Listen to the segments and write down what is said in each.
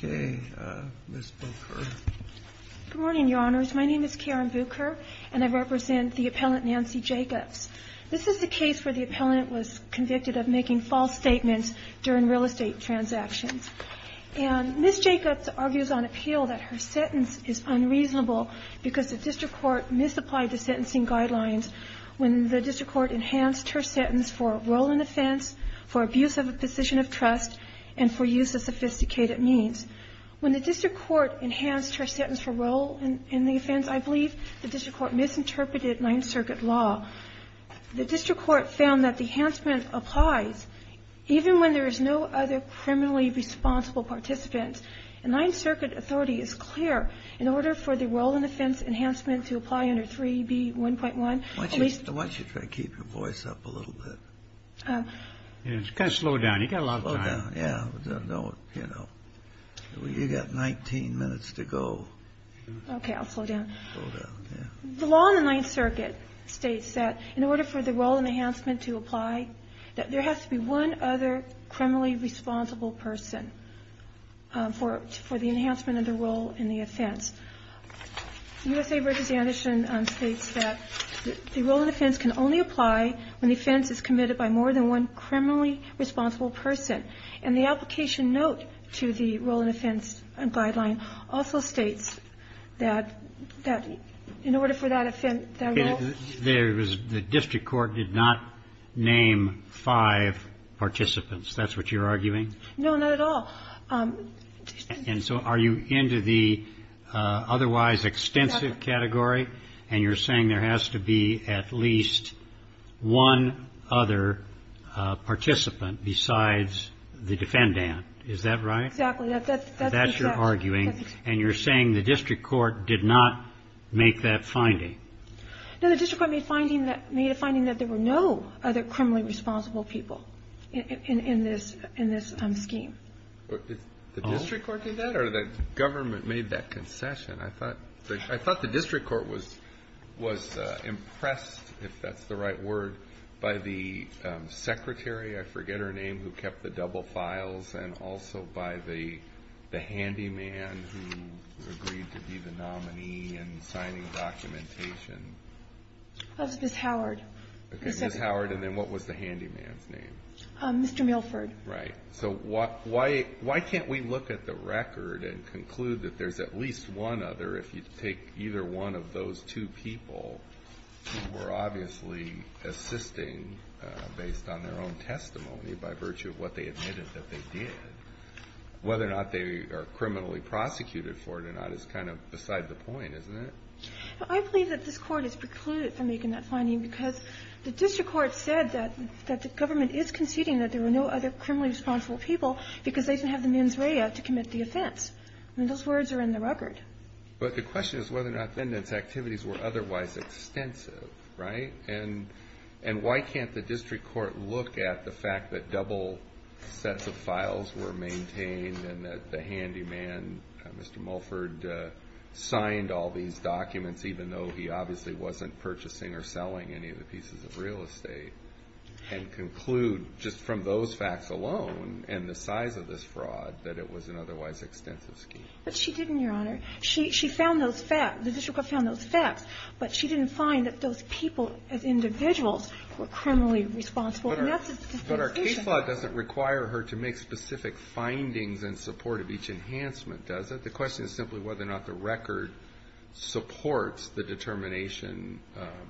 Good morning, Your Honors. My name is Karen Bucher, and I represent the appellant Nancy Jacobs. This is the case where the appellant was convicted of making false statements during real estate transactions. And Ms. Jacobs argues on appeal that her sentence is unreasonable because the district court misapplied the sentencing guidelines when the district court enhanced her sentence for role in offense, for abuse of a position of trust, and for use of sophisticated means. When the district court enhanced her sentence for role in the offense, I believe the district court misinterpreted Ninth Circuit law. The district court found that the enhancement applies even when there is no other criminally responsible participant. And Ninth Circuit authority is clear. In order for the role in offense enhancement to apply under 3b.1.1, at least the district court has to be clear. And I'm going to ask you to keep your voice up a little bit. It's kind of slow down. You've got a lot of time. Slow down, yeah. You know, you've got 19 minutes to go. Okay, I'll slow down. Slow down, yeah. The law in the Ninth Circuit states that in order for the role in enhancement to apply, that there has to be one other criminally responsible person for the enhancement of the role in the offense. U.S.A. representation states that the role in offense can only apply when the offense is committed by more than one criminally responsible person. And the application note to the role in offense guideline also states that in order for that offense, that role. The district court did not name five participants. That's what you're arguing? No, not at all. And so are you into the otherwise extensive category? And you're saying there has to be at least one other participant besides the defendant. Is that right? Exactly. That's what you're arguing. And you're saying the district court did not make that finding? No, the district court made a finding that there were no other criminally responsible people in this scheme. The district court did that or the government made that concession? I thought the district court was impressed, if that's the right word, by the secretary, I forget her name, who kept the double files, and also by the handyman who agreed to be the nominee and signing documentation. That was Ms. Howard. Okay, Ms. Howard, and then what was the handyman's name? Mr. Milford. Right. So why can't we look at the record and conclude that there's at least one other, if you take either one of those two people who were obviously assisting based on their own testimony by virtue of what they admitted that they did? Whether or not they are criminally prosecuted for it or not is kind of beside the point, isn't it? I believe that this Court is precluded from making that finding because the district court said that the government is conceding that there were no other criminally responsible people because they didn't have the mens rea to commit the offense. I mean, those words are in the record. But the question is whether or not the defendant's activities were otherwise extensive, right? And why can't the district court look at the fact that double sets of files were maintained and that the handyman, Mr. Milford, signed all these documents even though he obviously wasn't purchasing or selling any of the pieces of real estate and conclude just from those facts alone and the size of this fraud that it was an otherwise extensive scheme? But she didn't, Your Honor. She found those facts. The district court found those facts. But she didn't find that those people as individuals were criminally responsible. And that's a dispensation. But our case law doesn't require her to make specific findings in support of each enhancement, does it? The question is simply whether or not the record supports the determination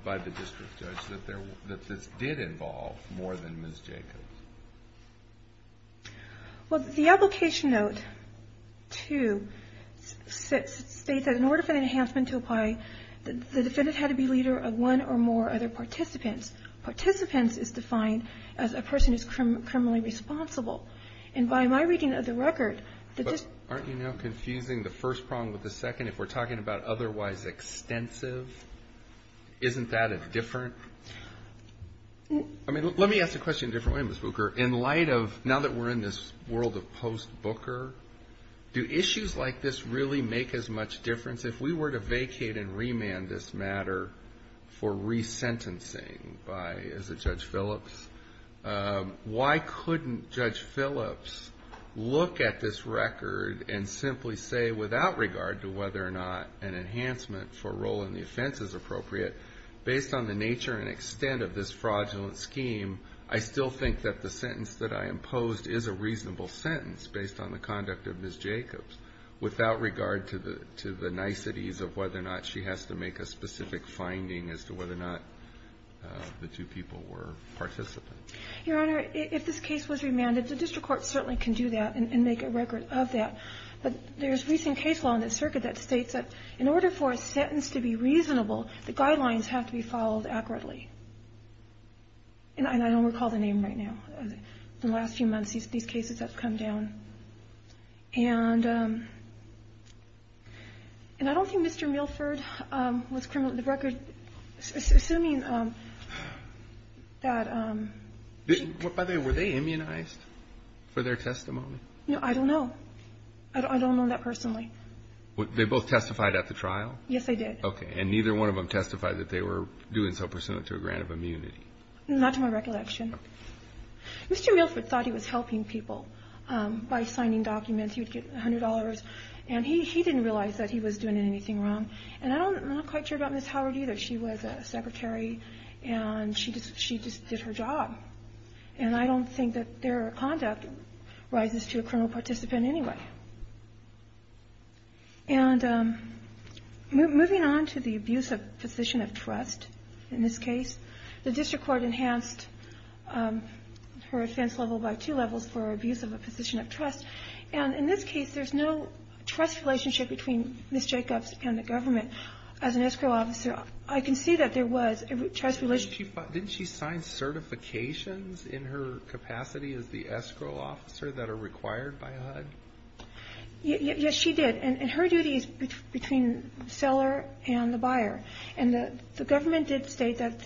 by the district judge that this did involve more than Ms. Jacobs. Well, the application note, too, states that in order for the enhancement to apply, the defendant had to be leader of one or more other participants. Participants is defined as a person who is criminally responsible. And by my reading of the record, the district judge had to be leader of one or more participants. And I think the question is, if we're discussing the first prong with the second, if we're talking about otherwise extensive, isn't that a different ---- I mean, let me ask the question a different way, Ms. Bucher. In light of now that we're in this world of post-Booker, do issues like this really make as much difference? If we were to vacate and remand this matter for resentencing by, as a Judge Phillips, why couldn't Judge Phillips look at this record and simply say, without regard to whether or not an enhancement for a role in the offense is appropriate, based on the nature and extent of this fraudulent scheme, I still think that the sentence that I imposed is a reasonable sentence based on the conduct of Ms. Jacobs, without regard to the niceties of whether or not she has to make a specific finding as to whether or not the two people were participants. Your Honor, if this case was remanded, the District Court certainly can do that and make a record of that. But there's recent case law in the circuit that states that in order for a sentence to be reasonable, the guidelines have to be followed accurately. And I don't recall the name right now. In the last few months, these cases have come down. And I don't think Mr. Milford was criminal. The record, assuming that he was. By the way, were they immunized for their testimony? No, I don't know. I don't know that personally. They both testified at the trial? Yes, they did. Okay. And neither one of them testified that they were doing so pursuant to a grant of immunity? Not to my recollection. Mr. Milford thought he was helping people by signing documents. He would get $100. And he didn't realize that he was doing anything wrong. And I'm not quite sure about Ms. Howard either. She was a secretary, and she just did her job. And I don't think that their conduct rises to a criminal participant anyway. And moving on to the abuse of position of trust in this case, the district court enhanced her offense level by two levels for abuse of a position of trust. And in this case, there's no trust relationship between Ms. Jacobs and the government. As an escrow officer, I can see that there was a trust relationship. Didn't she sign certifications in her capacity as the escrow officer that are required by HUD? Yes, she did. And her duty is between the seller and the buyer. And the government did state that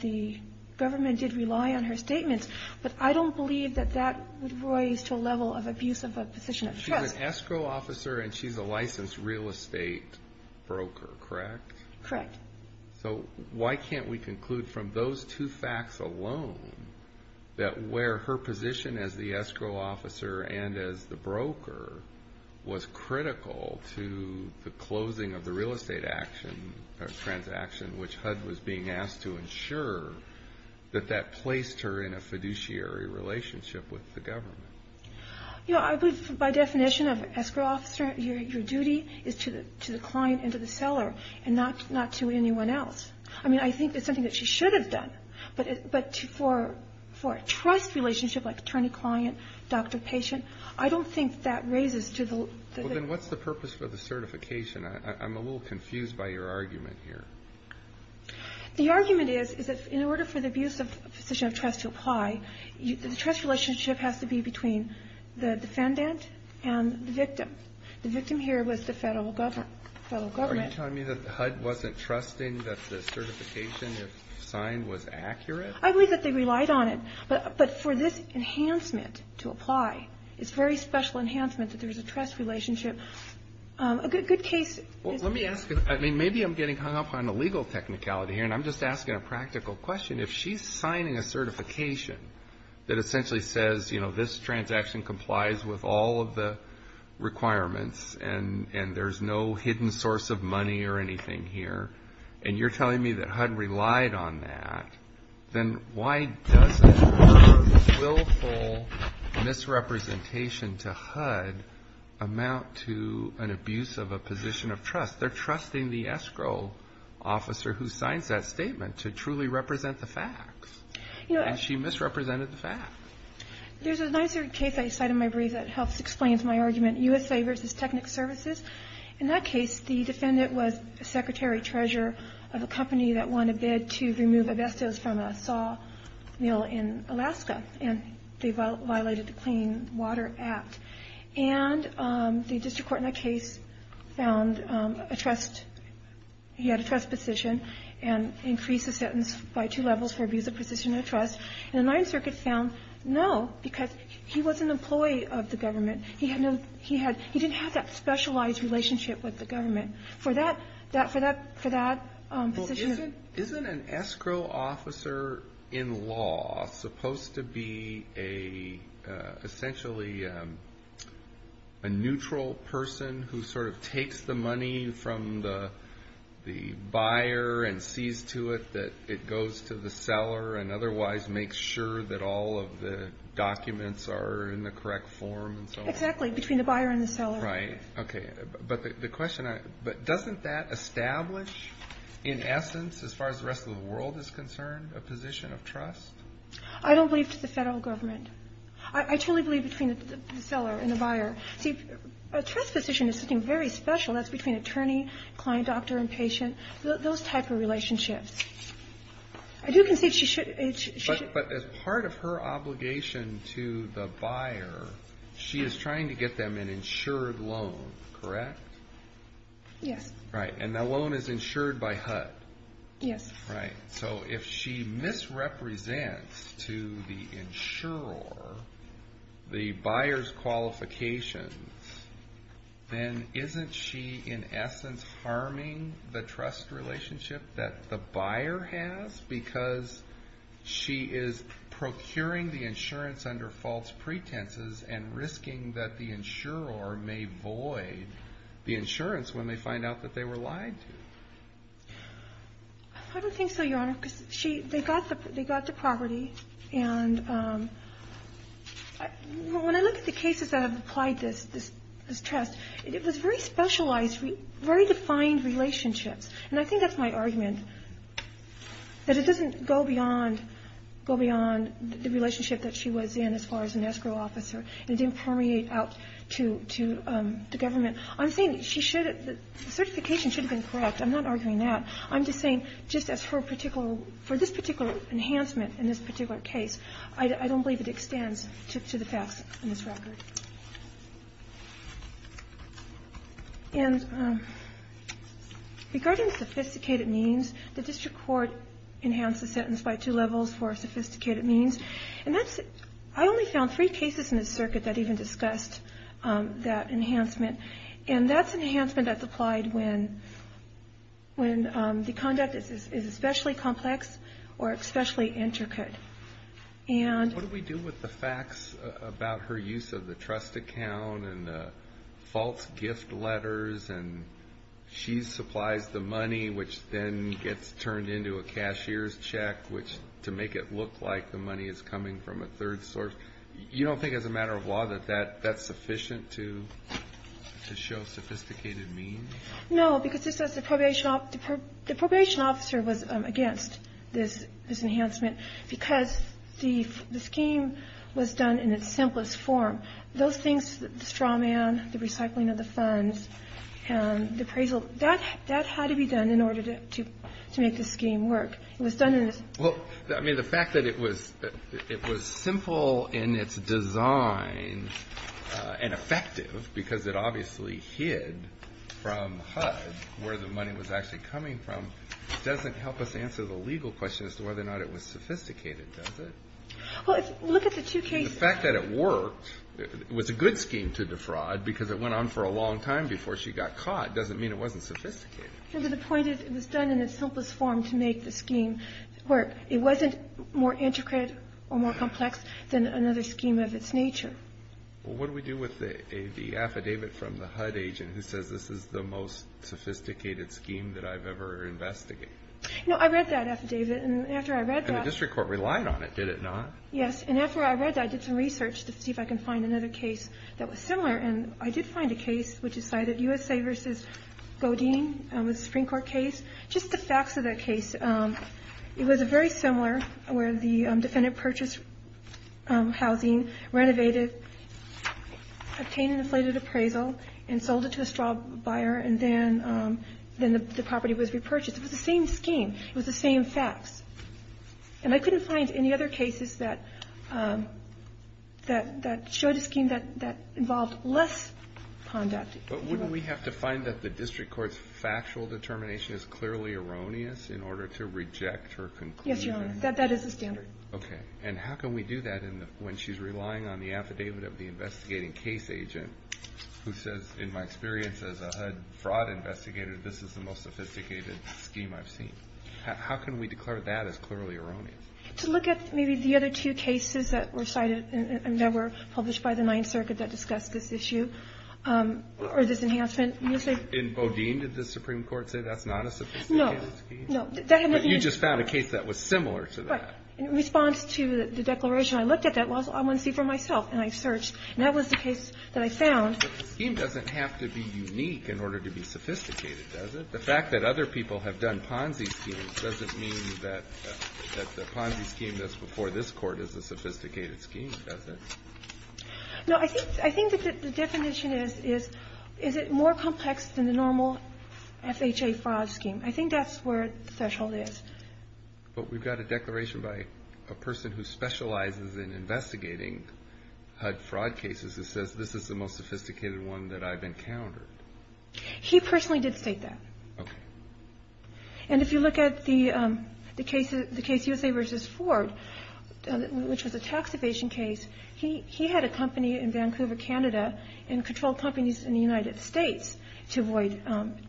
the government did rely on her statements, but I don't believe that that would rise to a level of abuse of a position of trust. She's an escrow officer, and she's a licensed real estate broker, correct? Correct. So why can't we conclude from those two facts alone that where her position as the escrow officer and as the broker was critical to the closing of the real estate transaction, which HUD was being asked to ensure that that placed her in a fiduciary relationship with the government? You know, I believe by definition of an escrow officer, your duty is to the client and to the seller and not to anyone else. I mean, I think that's something that she should have done. But for a trust relationship like attorney-client, doctor-patient, I don't think that raises to the level of abuse. Well, then what's the purpose for the certification? I'm a little confused by your argument here. The argument is that in order for the abuse of a position of trust to apply, the trust relationship has to be between the defendant and the victim. The victim here was the federal government. Are you telling me that HUD wasn't trusting that the certification, if signed, was accurate? I believe that they relied on it. But for this enhancement to apply, it's a very special enhancement, that there's a trust relationship. A good case is the case. Well, let me ask you. I mean, maybe I'm getting hung up on the legal technicality here, and I'm just asking a practical question. If she's signing a certification that essentially says, you know, this transaction complies with all of the requirements and there's no hidden source of money or anything here, and you're telling me that HUD relied on that, then why doesn't her willful misrepresentation to HUD amount to an abuse of a position of trust? They're trusting the escrow officer who signs that statement to truly represent the facts. And she misrepresented the facts. There's a Ninth Circuit case I cite in my brief that helps explain my argument, USA v. Technic Services. In that case, the defendant was secretary treasurer of a company that won a bid to remove a vestos from a saw mill in Alaska, and they violated the Clean Water Act. And the district court in that case found a trust – he had a trust position and increased the sentence by two levels for abuse of position of trust. And the Ninth Circuit found no, because he was an employee of the government. He had no – he had – he didn't have that specialized relationship with the government. For that – for that position – Well, isn't an escrow officer in law supposed to be a – essentially a neutral person who sort of takes the money from the buyer and sees to it that it goes to the seller and otherwise makes sure that all of the documents are in the correct form and so on? Exactly, between the buyer and the seller. Right. Okay. But the question – but doesn't that establish, in essence, as far as the rest of the world is concerned, a position of trust? I don't believe it's the federal government. I truly believe between the seller and the buyer. See, a trust position is something very special. That's between attorney, client, doctor, and patient. Those type of relationships. I do concede she should – But as part of her obligation to the buyer, she is trying to get them an insured loan, correct? Yes. Right. And that loan is insured by HUD. Yes. Right. So if she misrepresents to the insurer the buyer's qualifications, then isn't she in essence harming the trust relationship that the buyer has? Because she is procuring the insurance under false pretenses and risking that the insurer may void the insurance when they find out that they were lied to. I don't think so, Your Honor, because she – they got the property. And when I look at the cases that have applied this trust, it was very specialized, very defined relationships. And I think that's my argument, that it doesn't go beyond the relationship that she was in as far as an escrow officer, and it didn't permeate out to the government. I'm saying she should – the certification should have been correct. I'm not arguing that. I'm just saying just as her particular – for this particular enhancement in this particular case, I don't believe it extends to the facts in this record. And regarding sophisticated means, the district court enhanced the sentence by two levels for sophisticated means. And that's – I only found three cases in this circuit that even discussed that enhancement. And that's enhancement that's applied when the conduct is especially complex or especially intricate. And – What do we do with the facts about her use of the trust account and the false gift letters? And she supplies the money, which then gets turned into a cashier's check, which – to make it look like the money is coming from a third source. You don't think as a matter of law that that's sufficient to show sophisticated means? No, because just as the probation officer was against this enhancement because the scheme was done in its simplest form. Those things – the straw man, the recycling of the funds, the appraisal – that had to be done in order to make the scheme work. It was done in its – Well, I mean, the fact that it was simple in its design and effective because it obviously hid from HUD where the money was actually coming from doesn't help us answer the legal question as to whether or not it was sophisticated, does it? Well, look at the two cases. The fact that it worked, it was a good scheme to defraud because it went on for a long time before she got caught doesn't mean it wasn't sophisticated. No, but the point is it was done in its simplest form to make the scheme work. It wasn't more intricate or more complex than another scheme of its nature. Well, what do we do with the affidavit from the HUD agent who says this is the most sophisticated scheme that I've ever investigated? No, I read that affidavit, and after I read that – And the district court relied on it, did it not? Yes, and after I read that, I did some research to see if I can find another case that was similar, and I did find a case which cited USA v. Godine, a Supreme Court case. Just the facts of that case, it was very similar where the defendant purchased housing, renovated, obtained an inflated appraisal, and sold it to a straw buyer, and then the property was repurchased. It was the same scheme. It was the same facts. And I couldn't find any other cases that showed a scheme that involved less conduct. But wouldn't we have to find that the district court's factual determination is clearly erroneous in order to reject her conclusion? Yes, Your Honor, that is the standard. Okay, and how can we do that when she's relying on the affidavit of the investigating case agent who says, in my experience as a HUD fraud investigator, this is the most sophisticated scheme I've seen? How can we declare that as clearly erroneous? To look at maybe the other two cases that were cited and that were published by the Ninth Circuit that discussed this issue or this enhancement. In Godine, did the Supreme Court say that's not a sophisticated scheme? No, no. But you just found a case that was similar to that. In response to the declaration, I looked at that. Well, I want to see for myself, and I searched. And that was the case that I found. But the scheme doesn't have to be unique in order to be sophisticated, does it? The fact that other people have done Ponzi schemes doesn't mean that the Ponzi scheme that's before this Court is a sophisticated scheme, does it? No, I think that the definition is, is it more complex than the normal FHA fraud scheme? I think that's where the threshold is. But we've got a declaration by a person who specializes in investigating HUD fraud cases that says this is the most sophisticated one that I've encountered. He personally did state that. Okay. And if you look at the case USA v. Ford, which was a tax evasion case, he had a company in Vancouver, Canada, and controlled companies in the United States to avoid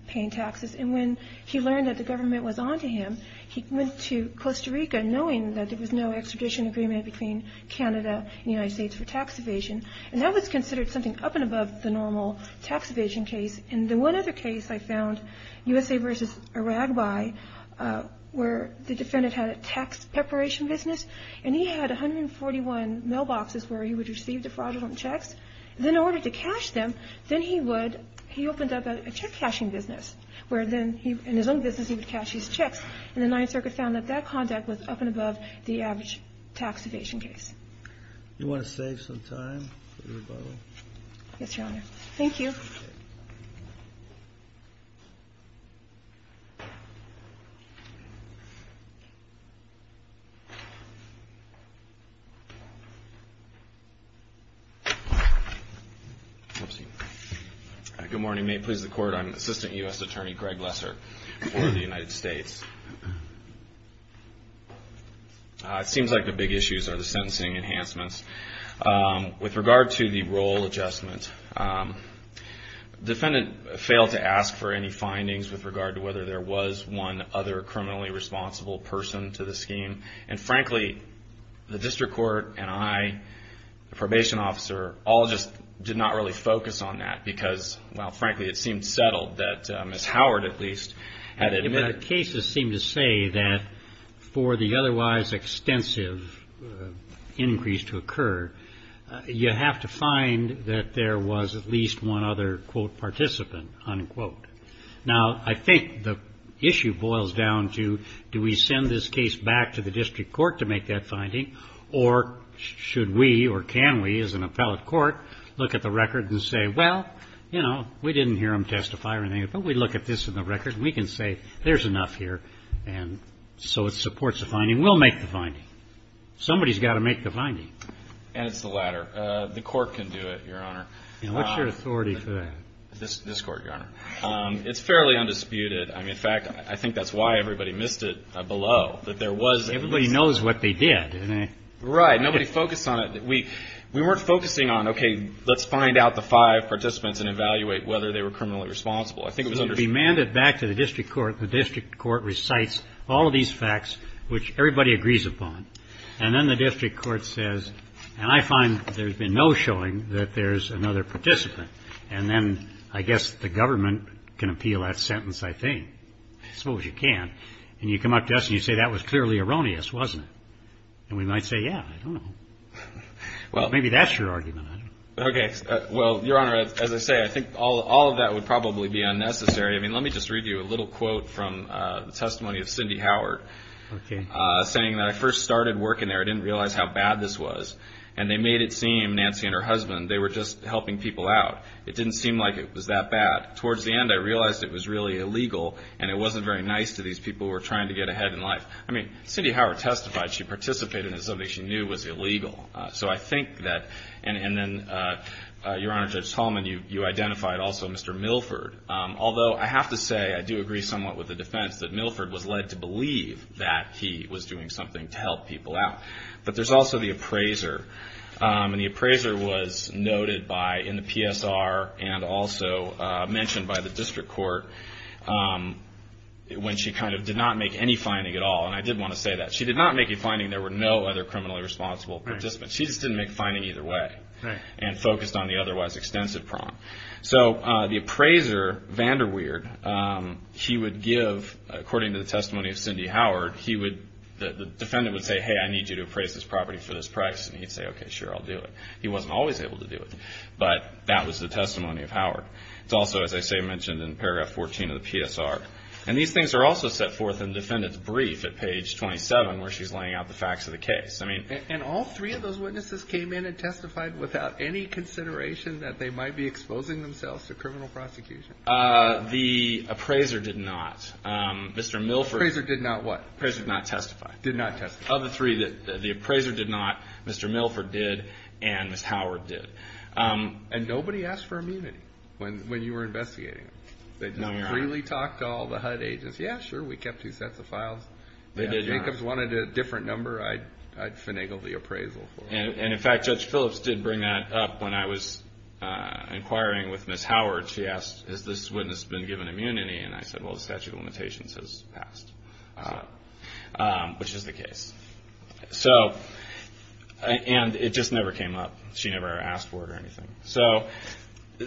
paying taxes. And when he learned that the government was on to him, he went to Costa Rica, knowing that there was no extradition agreement between Canada and the United States for tax evasion. And that was considered something up and above the normal tax evasion case. And the one other case I found, USA v. Aragbi, where the defendant had a tax preparation business, and he had 141 mailboxes where he would receive defraudulent checks. And in order to cash them, then he would, he opened up a check-cashing business where then he, in his own business, he would cash his checks. And the Ninth Circuit found that that contact was up and above the average tax evasion case. You want to save some time for the rebuttal? Yes, Your Honor. Thank you. Thank you. Good morning. May it please the Court, I'm Assistant U.S. Attorney Greg Lesser for the United States. It seems like the big issues are the sentencing enhancements. With regard to the role adjustment, defendant failed to ask for any findings with regard to whether there was one other criminally responsible person to the scheme. And frankly, the district court and I, the probation officer, all just did not really focus on that because, well, frankly, it seemed settled that Ms. Howard, at least, had admitted say that for the otherwise extensive increase to occur, you have to find that there was at least one other, quote, participant, unquote. Now, I think the issue boils down to, do we send this case back to the district court to make that finding, or should we or can we, as an appellate court, look at the record and say, well, you know, we didn't hear him testify or anything, but we look at this in the record, and we can say there's enough here, and so it supports the finding. We'll make the finding. Somebody's got to make the finding. And it's the latter. The court can do it, Your Honor. And what's your authority for that? This court, Your Honor. It's fairly undisputed. I mean, in fact, I think that's why everybody missed it below, that there was at least one. Everybody knows what they did. Right. Nobody focused on it. We weren't focusing on, okay, let's find out the five participants and evaluate whether they were criminally responsible. I think it was understood. If you demand it back to the district court, the district court recites all of these facts, which everybody agrees upon, and then the district court says, and I find there's been no showing that there's another participant, and then I guess the government can appeal that sentence, I think. I suppose you can. And you come up to us and you say, that was clearly erroneous, wasn't it? And we might say, yeah, I don't know. Well, maybe that's your argument. Okay. Well, Your Honor, as I say, I think all of that would probably be unnecessary. I mean, let me just read you a little quote from the testimony of Cindy Howard. Okay. Saying that, I first started working there. I didn't realize how bad this was. And they made it seem, Nancy and her husband, they were just helping people out. It didn't seem like it was that bad. Towards the end, I realized it was really illegal, and it wasn't very nice to these people who were trying to get ahead in life. I mean, Cindy Howard testified. She participated in something she knew was illegal. So I think that, and then, Your Honor, Judge Tallman, you identified also Mr. Milford. Although, I have to say, I do agree somewhat with the defense that Milford was led to believe that he was doing something to help people out. But there's also the appraiser. And the appraiser was noted in the PSR and also mentioned by the district court when she kind of did not make any finding at all. And I did want to say that. She did not make a finding. There were no other criminally responsible participants. She just didn't make a finding either way and focused on the otherwise extensive problem. So the appraiser, VanderWeerd, he would give, according to the testimony of Cindy Howard, he would, the defendant would say, hey, I need you to appraise this property for this price. And he'd say, okay, sure, I'll do it. He wasn't always able to do it. But that was the testimony of Howard. It's also, as I say, mentioned in paragraph 14 of the PSR. And these things are also set forth in the defendant's brief at page 27 where she's laying out the facts of the case. And all three of those witnesses came in and testified without any consideration that they might be exposing themselves to criminal prosecution? The appraiser did not. Mr. Milford. The appraiser did not what? The appraiser did not testify. Did not testify. Of the three, the appraiser did not, Mr. Milford did, and Ms. Howard did. And nobody asked for immunity when you were investigating? No, we were not. They just freely talked to all the HUD agents. Yeah, sure, we kept two sets of files. They did not. If Jacobs wanted a different number, I'd finagle the appraisal for him. And, in fact, Judge Phillips did bring that up when I was inquiring with Ms. Howard. She asked, has this witness been given immunity? And I said, well, the statute of limitations has passed, which is the case. And it just never came up. She never asked for it or anything. So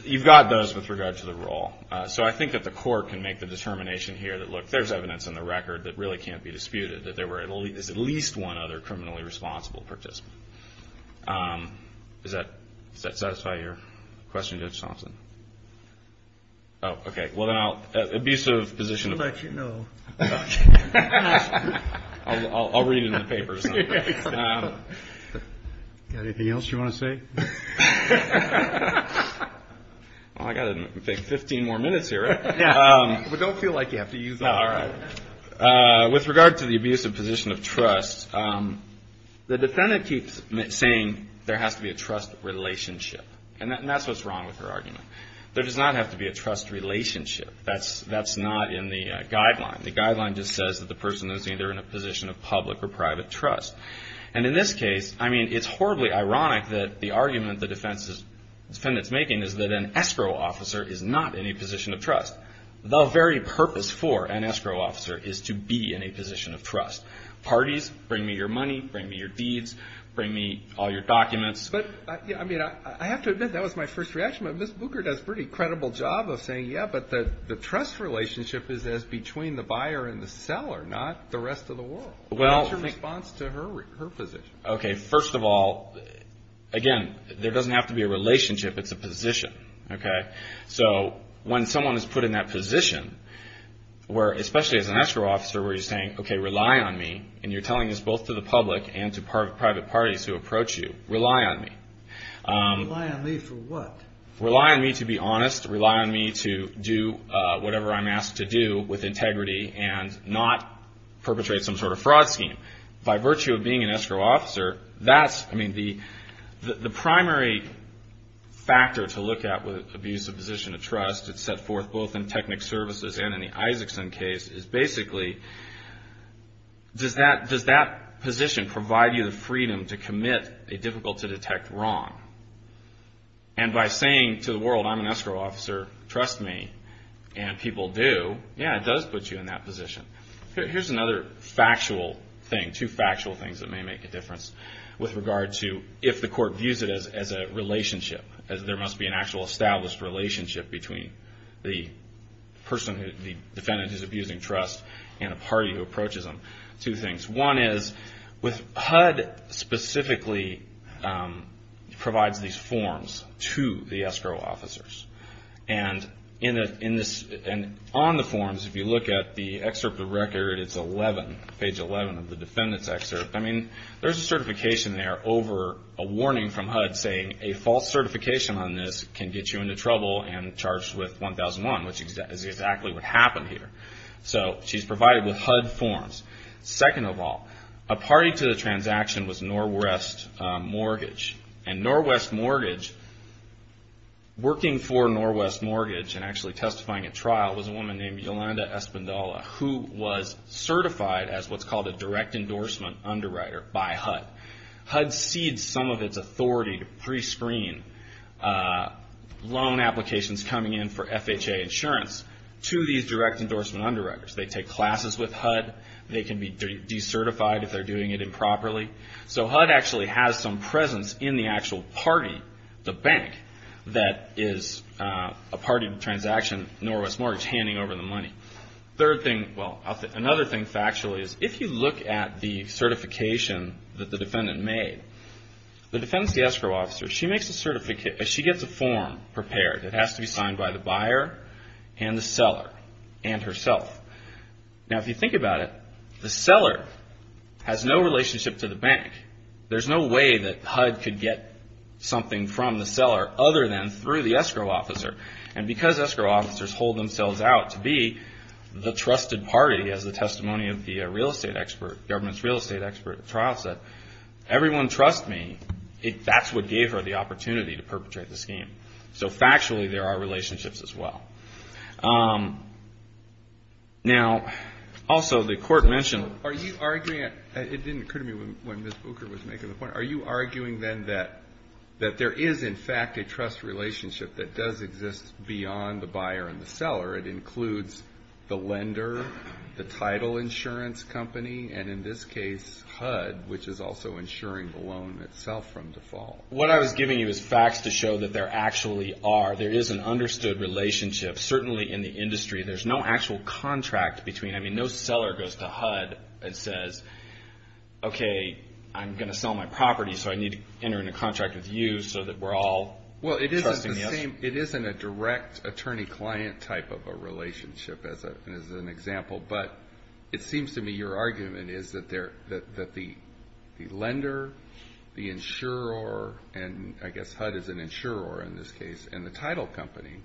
you've got those with regard to the role. So I think that the court can make the determination here that, look, there's evidence in the record that really can't be disputed, that there is at least one other criminally responsible participant. Does that satisfy your question, Judge Thompson? Oh, okay. Well, then I'll abuse the position. I'll let you know. I'll read it in the papers. Got anything else you want to say? Well, I've got 15 more minutes here. But don't feel like you have to use all of them. With regard to the abusive position of trust, the defendant keeps saying there has to be a trust relationship. And that's what's wrong with her argument. There does not have to be a trust relationship. That's not in the guideline. The guideline just says that the person is either in a position of public or private trust. And in this case, I mean, it's horribly ironic that the argument the defendant's making is that an escrow officer is not in a position of trust. The very purpose for an escrow officer is to be in a position of trust. Parties, bring me your money, bring me your deeds, bring me all your documents. But, I mean, I have to admit, that was my first reaction. But Ms. Booker does a pretty credible job of saying, yeah, but the trust relationship is as between the buyer and the seller, not the rest of the world. What's your response to her position? Okay, first of all, again, there doesn't have to be a relationship. It's a position, okay? So when someone is put in that position where, especially as an escrow officer, where you're saying, okay, rely on me, and you're telling this both to the public and to private parties who approach you, rely on me. Rely on me for what? Rely on me to be honest, rely on me to do whatever I'm asked to do with integrity and not perpetrate some sort of fraud scheme. By virtue of being an escrow officer, that's, I mean, the primary factor to look at with abuse of position of trust that's set forth both in Technic Services and in the Isaacson case is basically, does that position provide you the freedom to commit a difficult-to-detect wrong? And by saying to the world, I'm an escrow officer, trust me, and people do, yeah, it does put you in that position. Here's another factual thing, two factual things that may make a difference with regard to if the court views it as a relationship, as there must be an actual established relationship between the person, the defendant who's abusing trust and a party who approaches them. Two things. One is, HUD specifically provides these forms to the escrow officers. And on the forms, if you look at the excerpt of the record, it's 11, page 11 of the defendant's excerpt. I mean, there's a certification there over a warning from HUD saying, a false certification on this can get you into trouble and charged with 1001, which is exactly what happened here. So she's provided with HUD forms. Second of all, a party to the transaction was Norwest Mortgage. And Norwest Mortgage, working for Norwest Mortgage and actually testifying at trial, was a woman named Yolanda Espindola, who was certified as what's called a direct endorsement underwriter by HUD. HUD cedes some of its authority to prescreen loan applications coming in for FHA insurance to these direct endorsement underwriters. They take classes with HUD. They can be decertified if they're doing it improperly. So HUD actually has some presence in the actual party, the bank, that is a party to the transaction, Norwest Mortgage, handing over the money. Third thing, well, another thing factually, is if you look at the certification that the defendant made, the defendant's the escrow officer. She gets a form prepared. It has to be signed by the buyer and the seller and herself. Now, if you think about it, the seller has no relationship to the bank. There's no way that HUD could get something from the seller other than through the escrow officer. And because escrow officers hold themselves out to be the trusted party, as the testimony of the real estate expert, government's real estate expert at trial said, everyone trust me, that's what gave her the opportunity to perpetrate the scheme. So factually, there are relationships as well. Now, also the court mentioned. Are you arguing, it didn't occur to me when Ms. Booker was making the point, are you arguing then that there is, in fact, a trust relationship that does exist beyond the buyer and the seller? It includes the lender, the title insurance company, and in this case HUD, which is also insuring the loan itself from default. What I was giving you is facts to show that there actually are. There is an understood relationship, certainly in the industry. There's no actual contract between. I mean, no seller goes to HUD and says, okay, I'm going to sell my property, so I need to enter in a contract with you so that we're all trusting you. Well, it isn't the same. It isn't a direct attorney-client type of a relationship as an example. But it seems to me your argument is that the lender, the insurer, and I guess HUD is an insurer in this case, and the title company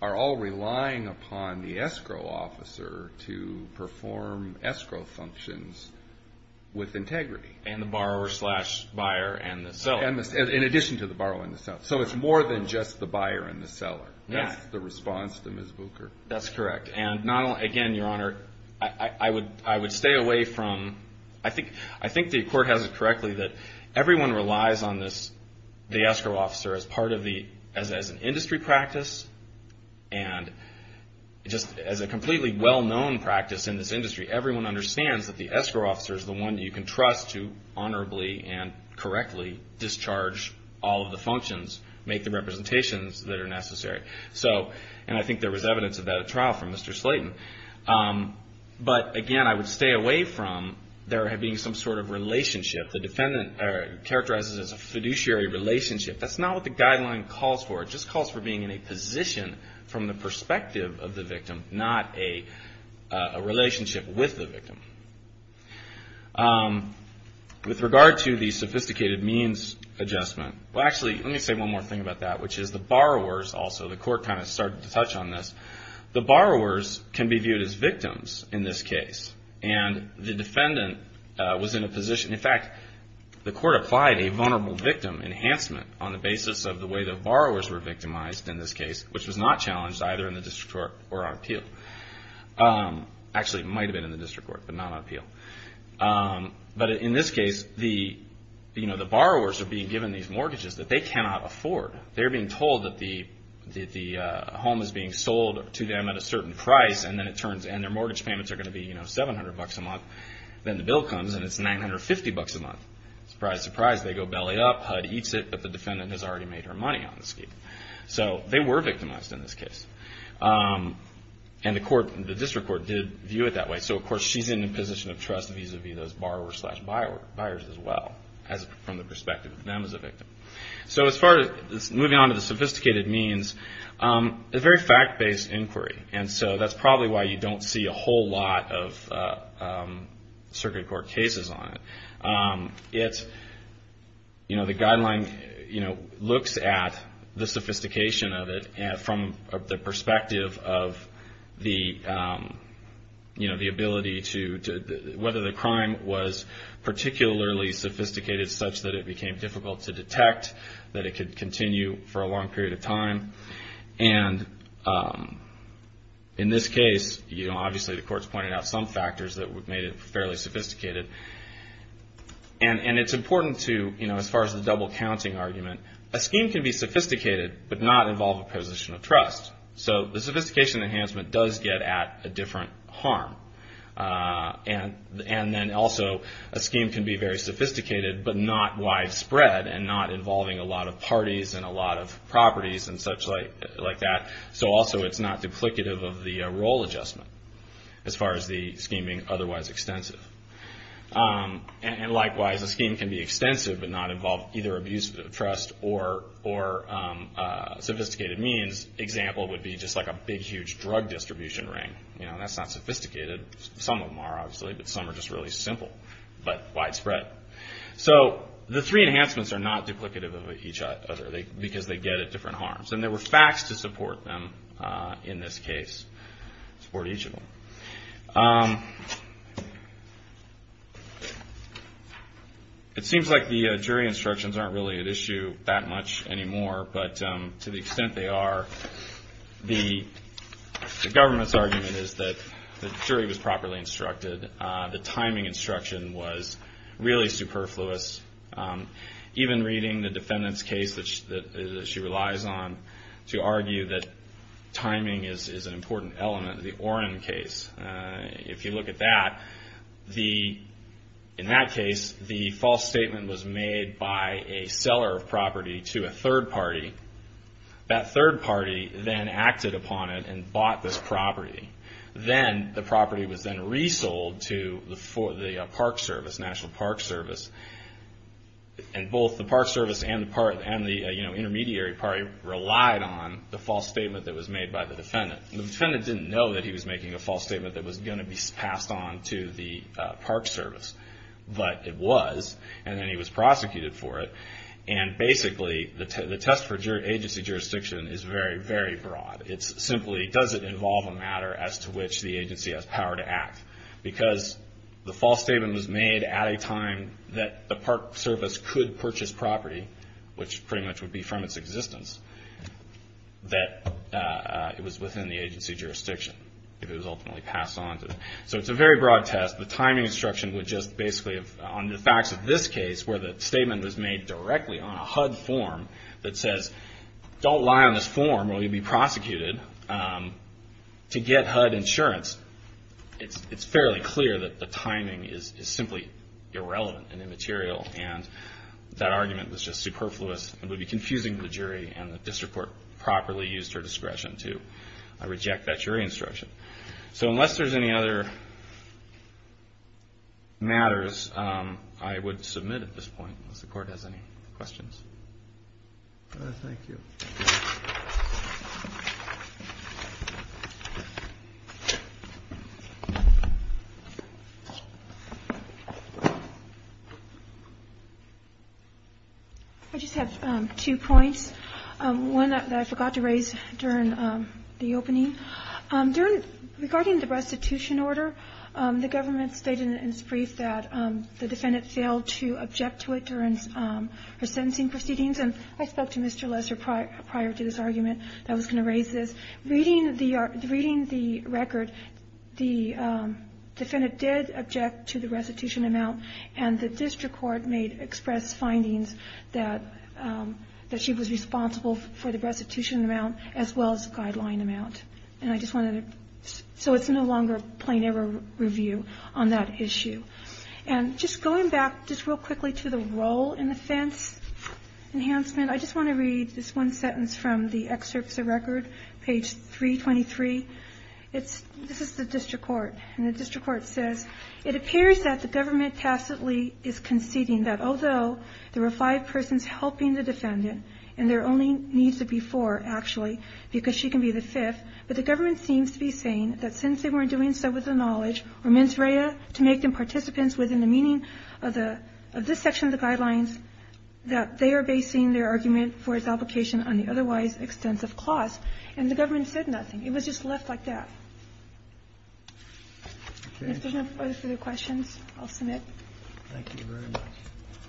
are all relying upon the escrow officer to perform escrow functions with integrity. And the borrower slash buyer and the seller. In addition to the borrower and the seller. So it's more than just the buyer and the seller. That's the response to Ms. Booker. That's correct. And, again, Your Honor, I would stay away from – I think the court has it correctly that everyone relies on the escrow officer as part of the – as an industry practice. And just as a completely well-known practice in this industry, everyone understands that the escrow officer is the one you can trust to honorably and correctly discharge all of the functions, make the representations that are necessary. And I think there was evidence of that at trial from Mr. Slayton. But, again, I would stay away from there being some sort of relationship. The defendant characterizes it as a fiduciary relationship. That's not what the guideline calls for. It just calls for being in a position from the perspective of the victim, not a relationship with the victim. With regard to the sophisticated means adjustment, well, actually, let me say one more thing about that, which is the borrowers also. The court kind of started to touch on this. The borrowers can be viewed as victims in this case. And the defendant was in a position – in fact, the court applied a vulnerable victim enhancement on the basis of the way the borrowers were victimized in this case, which was not challenged either in the district court or on appeal. Actually, it might have been in the district court, but not on appeal. But in this case, the borrowers are being given these mortgages that they cannot afford. They're being told that the home is being sold to them at a certain price, and their mortgage payments are going to be $700 a month. Then the bill comes, and it's $950 a month. Surprise, surprise. They go belly up. HUD eats it. But the defendant has already made her money on the scheme. So they were victimized in this case. And the district court did view it that way. So, of course, she's in a position of trust vis-à-vis those borrowers as well from the perspective of them as a victim. So moving on to the sophisticated means, it's a very fact-based inquiry. And so that's probably why you don't see a whole lot of circuit court cases on it. The guideline looks at the sophistication of it from the perspective of the ability to – particularly sophisticated such that it became difficult to detect, that it could continue for a long period of time. And in this case, you know, obviously the court's pointed out some factors that made it fairly sophisticated. And it's important to, you know, as far as the double-counting argument, a scheme can be sophisticated but not involve a position of trust. So the sophistication enhancement does get at a different harm. And then also a scheme can be very sophisticated but not widespread and not involving a lot of parties and a lot of properties and such like that. So also it's not duplicative of the role adjustment as far as the scheme being otherwise extensive. And likewise, a scheme can be extensive but not involve either abuse of trust or sophisticated means. Example would be just like a big, huge drug distribution ring. You know, that's not sophisticated. Some of them are, obviously, but some are just really simple but widespread. So the three enhancements are not duplicative of each other because they get at different harms. And there were facts to support them in this case, support each of them. It seems like the jury instructions aren't really at issue that much anymore, but to the extent they are, the government's argument is that the jury was properly instructed. The timing instruction was really superfluous. Even reading the defendant's case that she relies on to argue that timing is an important element, the Orrin case, if you look at that, in that case, the false statement was made by a seller of property to a third party. That third party then acted upon it and bought this property. Then the property was then resold to the Park Service, National Park Service. And both the Park Service and the intermediary party relied on the false statement that was made by the defendant. The defendant didn't know that he was making a false statement that was going to be passed on to the Park Service. But it was, and then he was prosecuted for it. And basically, the test for agency jurisdiction is very, very broad. It's simply, does it involve a matter as to which the agency has power to act? Because the false statement was made at a time that the Park Service could purchase property, which pretty much would be from its existence, that it was within the agency jurisdiction. It was ultimately passed on to them. So it's a very broad test. The timing instruction would just basically, on the facts of this case, where the statement was made directly on a HUD form that says, don't lie on this form or you'll be prosecuted to get HUD insurance, it's fairly clear that the timing is simply irrelevant and immaterial. And that argument was just superfluous and would be confusing to the jury, and the district court properly used her discretion to reject that jury instruction. So unless there's any other matters, I would submit at this point, unless the court has any questions. Thank you. I just have two points, one that I forgot to raise during the opening. Regarding the restitution order, the government stated in its brief that the defendant failed to object to it during her sentencing proceedings. And I spoke to Mr. Lesser prior to this argument that I was going to raise this. Reading the record, the defendant did object to the restitution amount, and the district court made expressed findings that she was responsible for the restitution amount as well as the guideline amount. So it's no longer a plain error review on that issue. And just going back just real quickly to the role in offense enhancement, I just want to read this one sentence from the excerpts of record, page 323. This is the district court. And the district court says, it appears that the government tacitly is conceding that although there were five persons helping the defendant and there only needs to be four, actually, because she can be the fifth, but the government seems to be saying that since they weren't doing so with the knowledge or mens rea to make them participants within the meaning of this section of the guidelines, that they are basing their argument for its application on the otherwise extensive clause, and the government said nothing. It was just left like that. If there's no further questions, I'll submit. Thank you very much.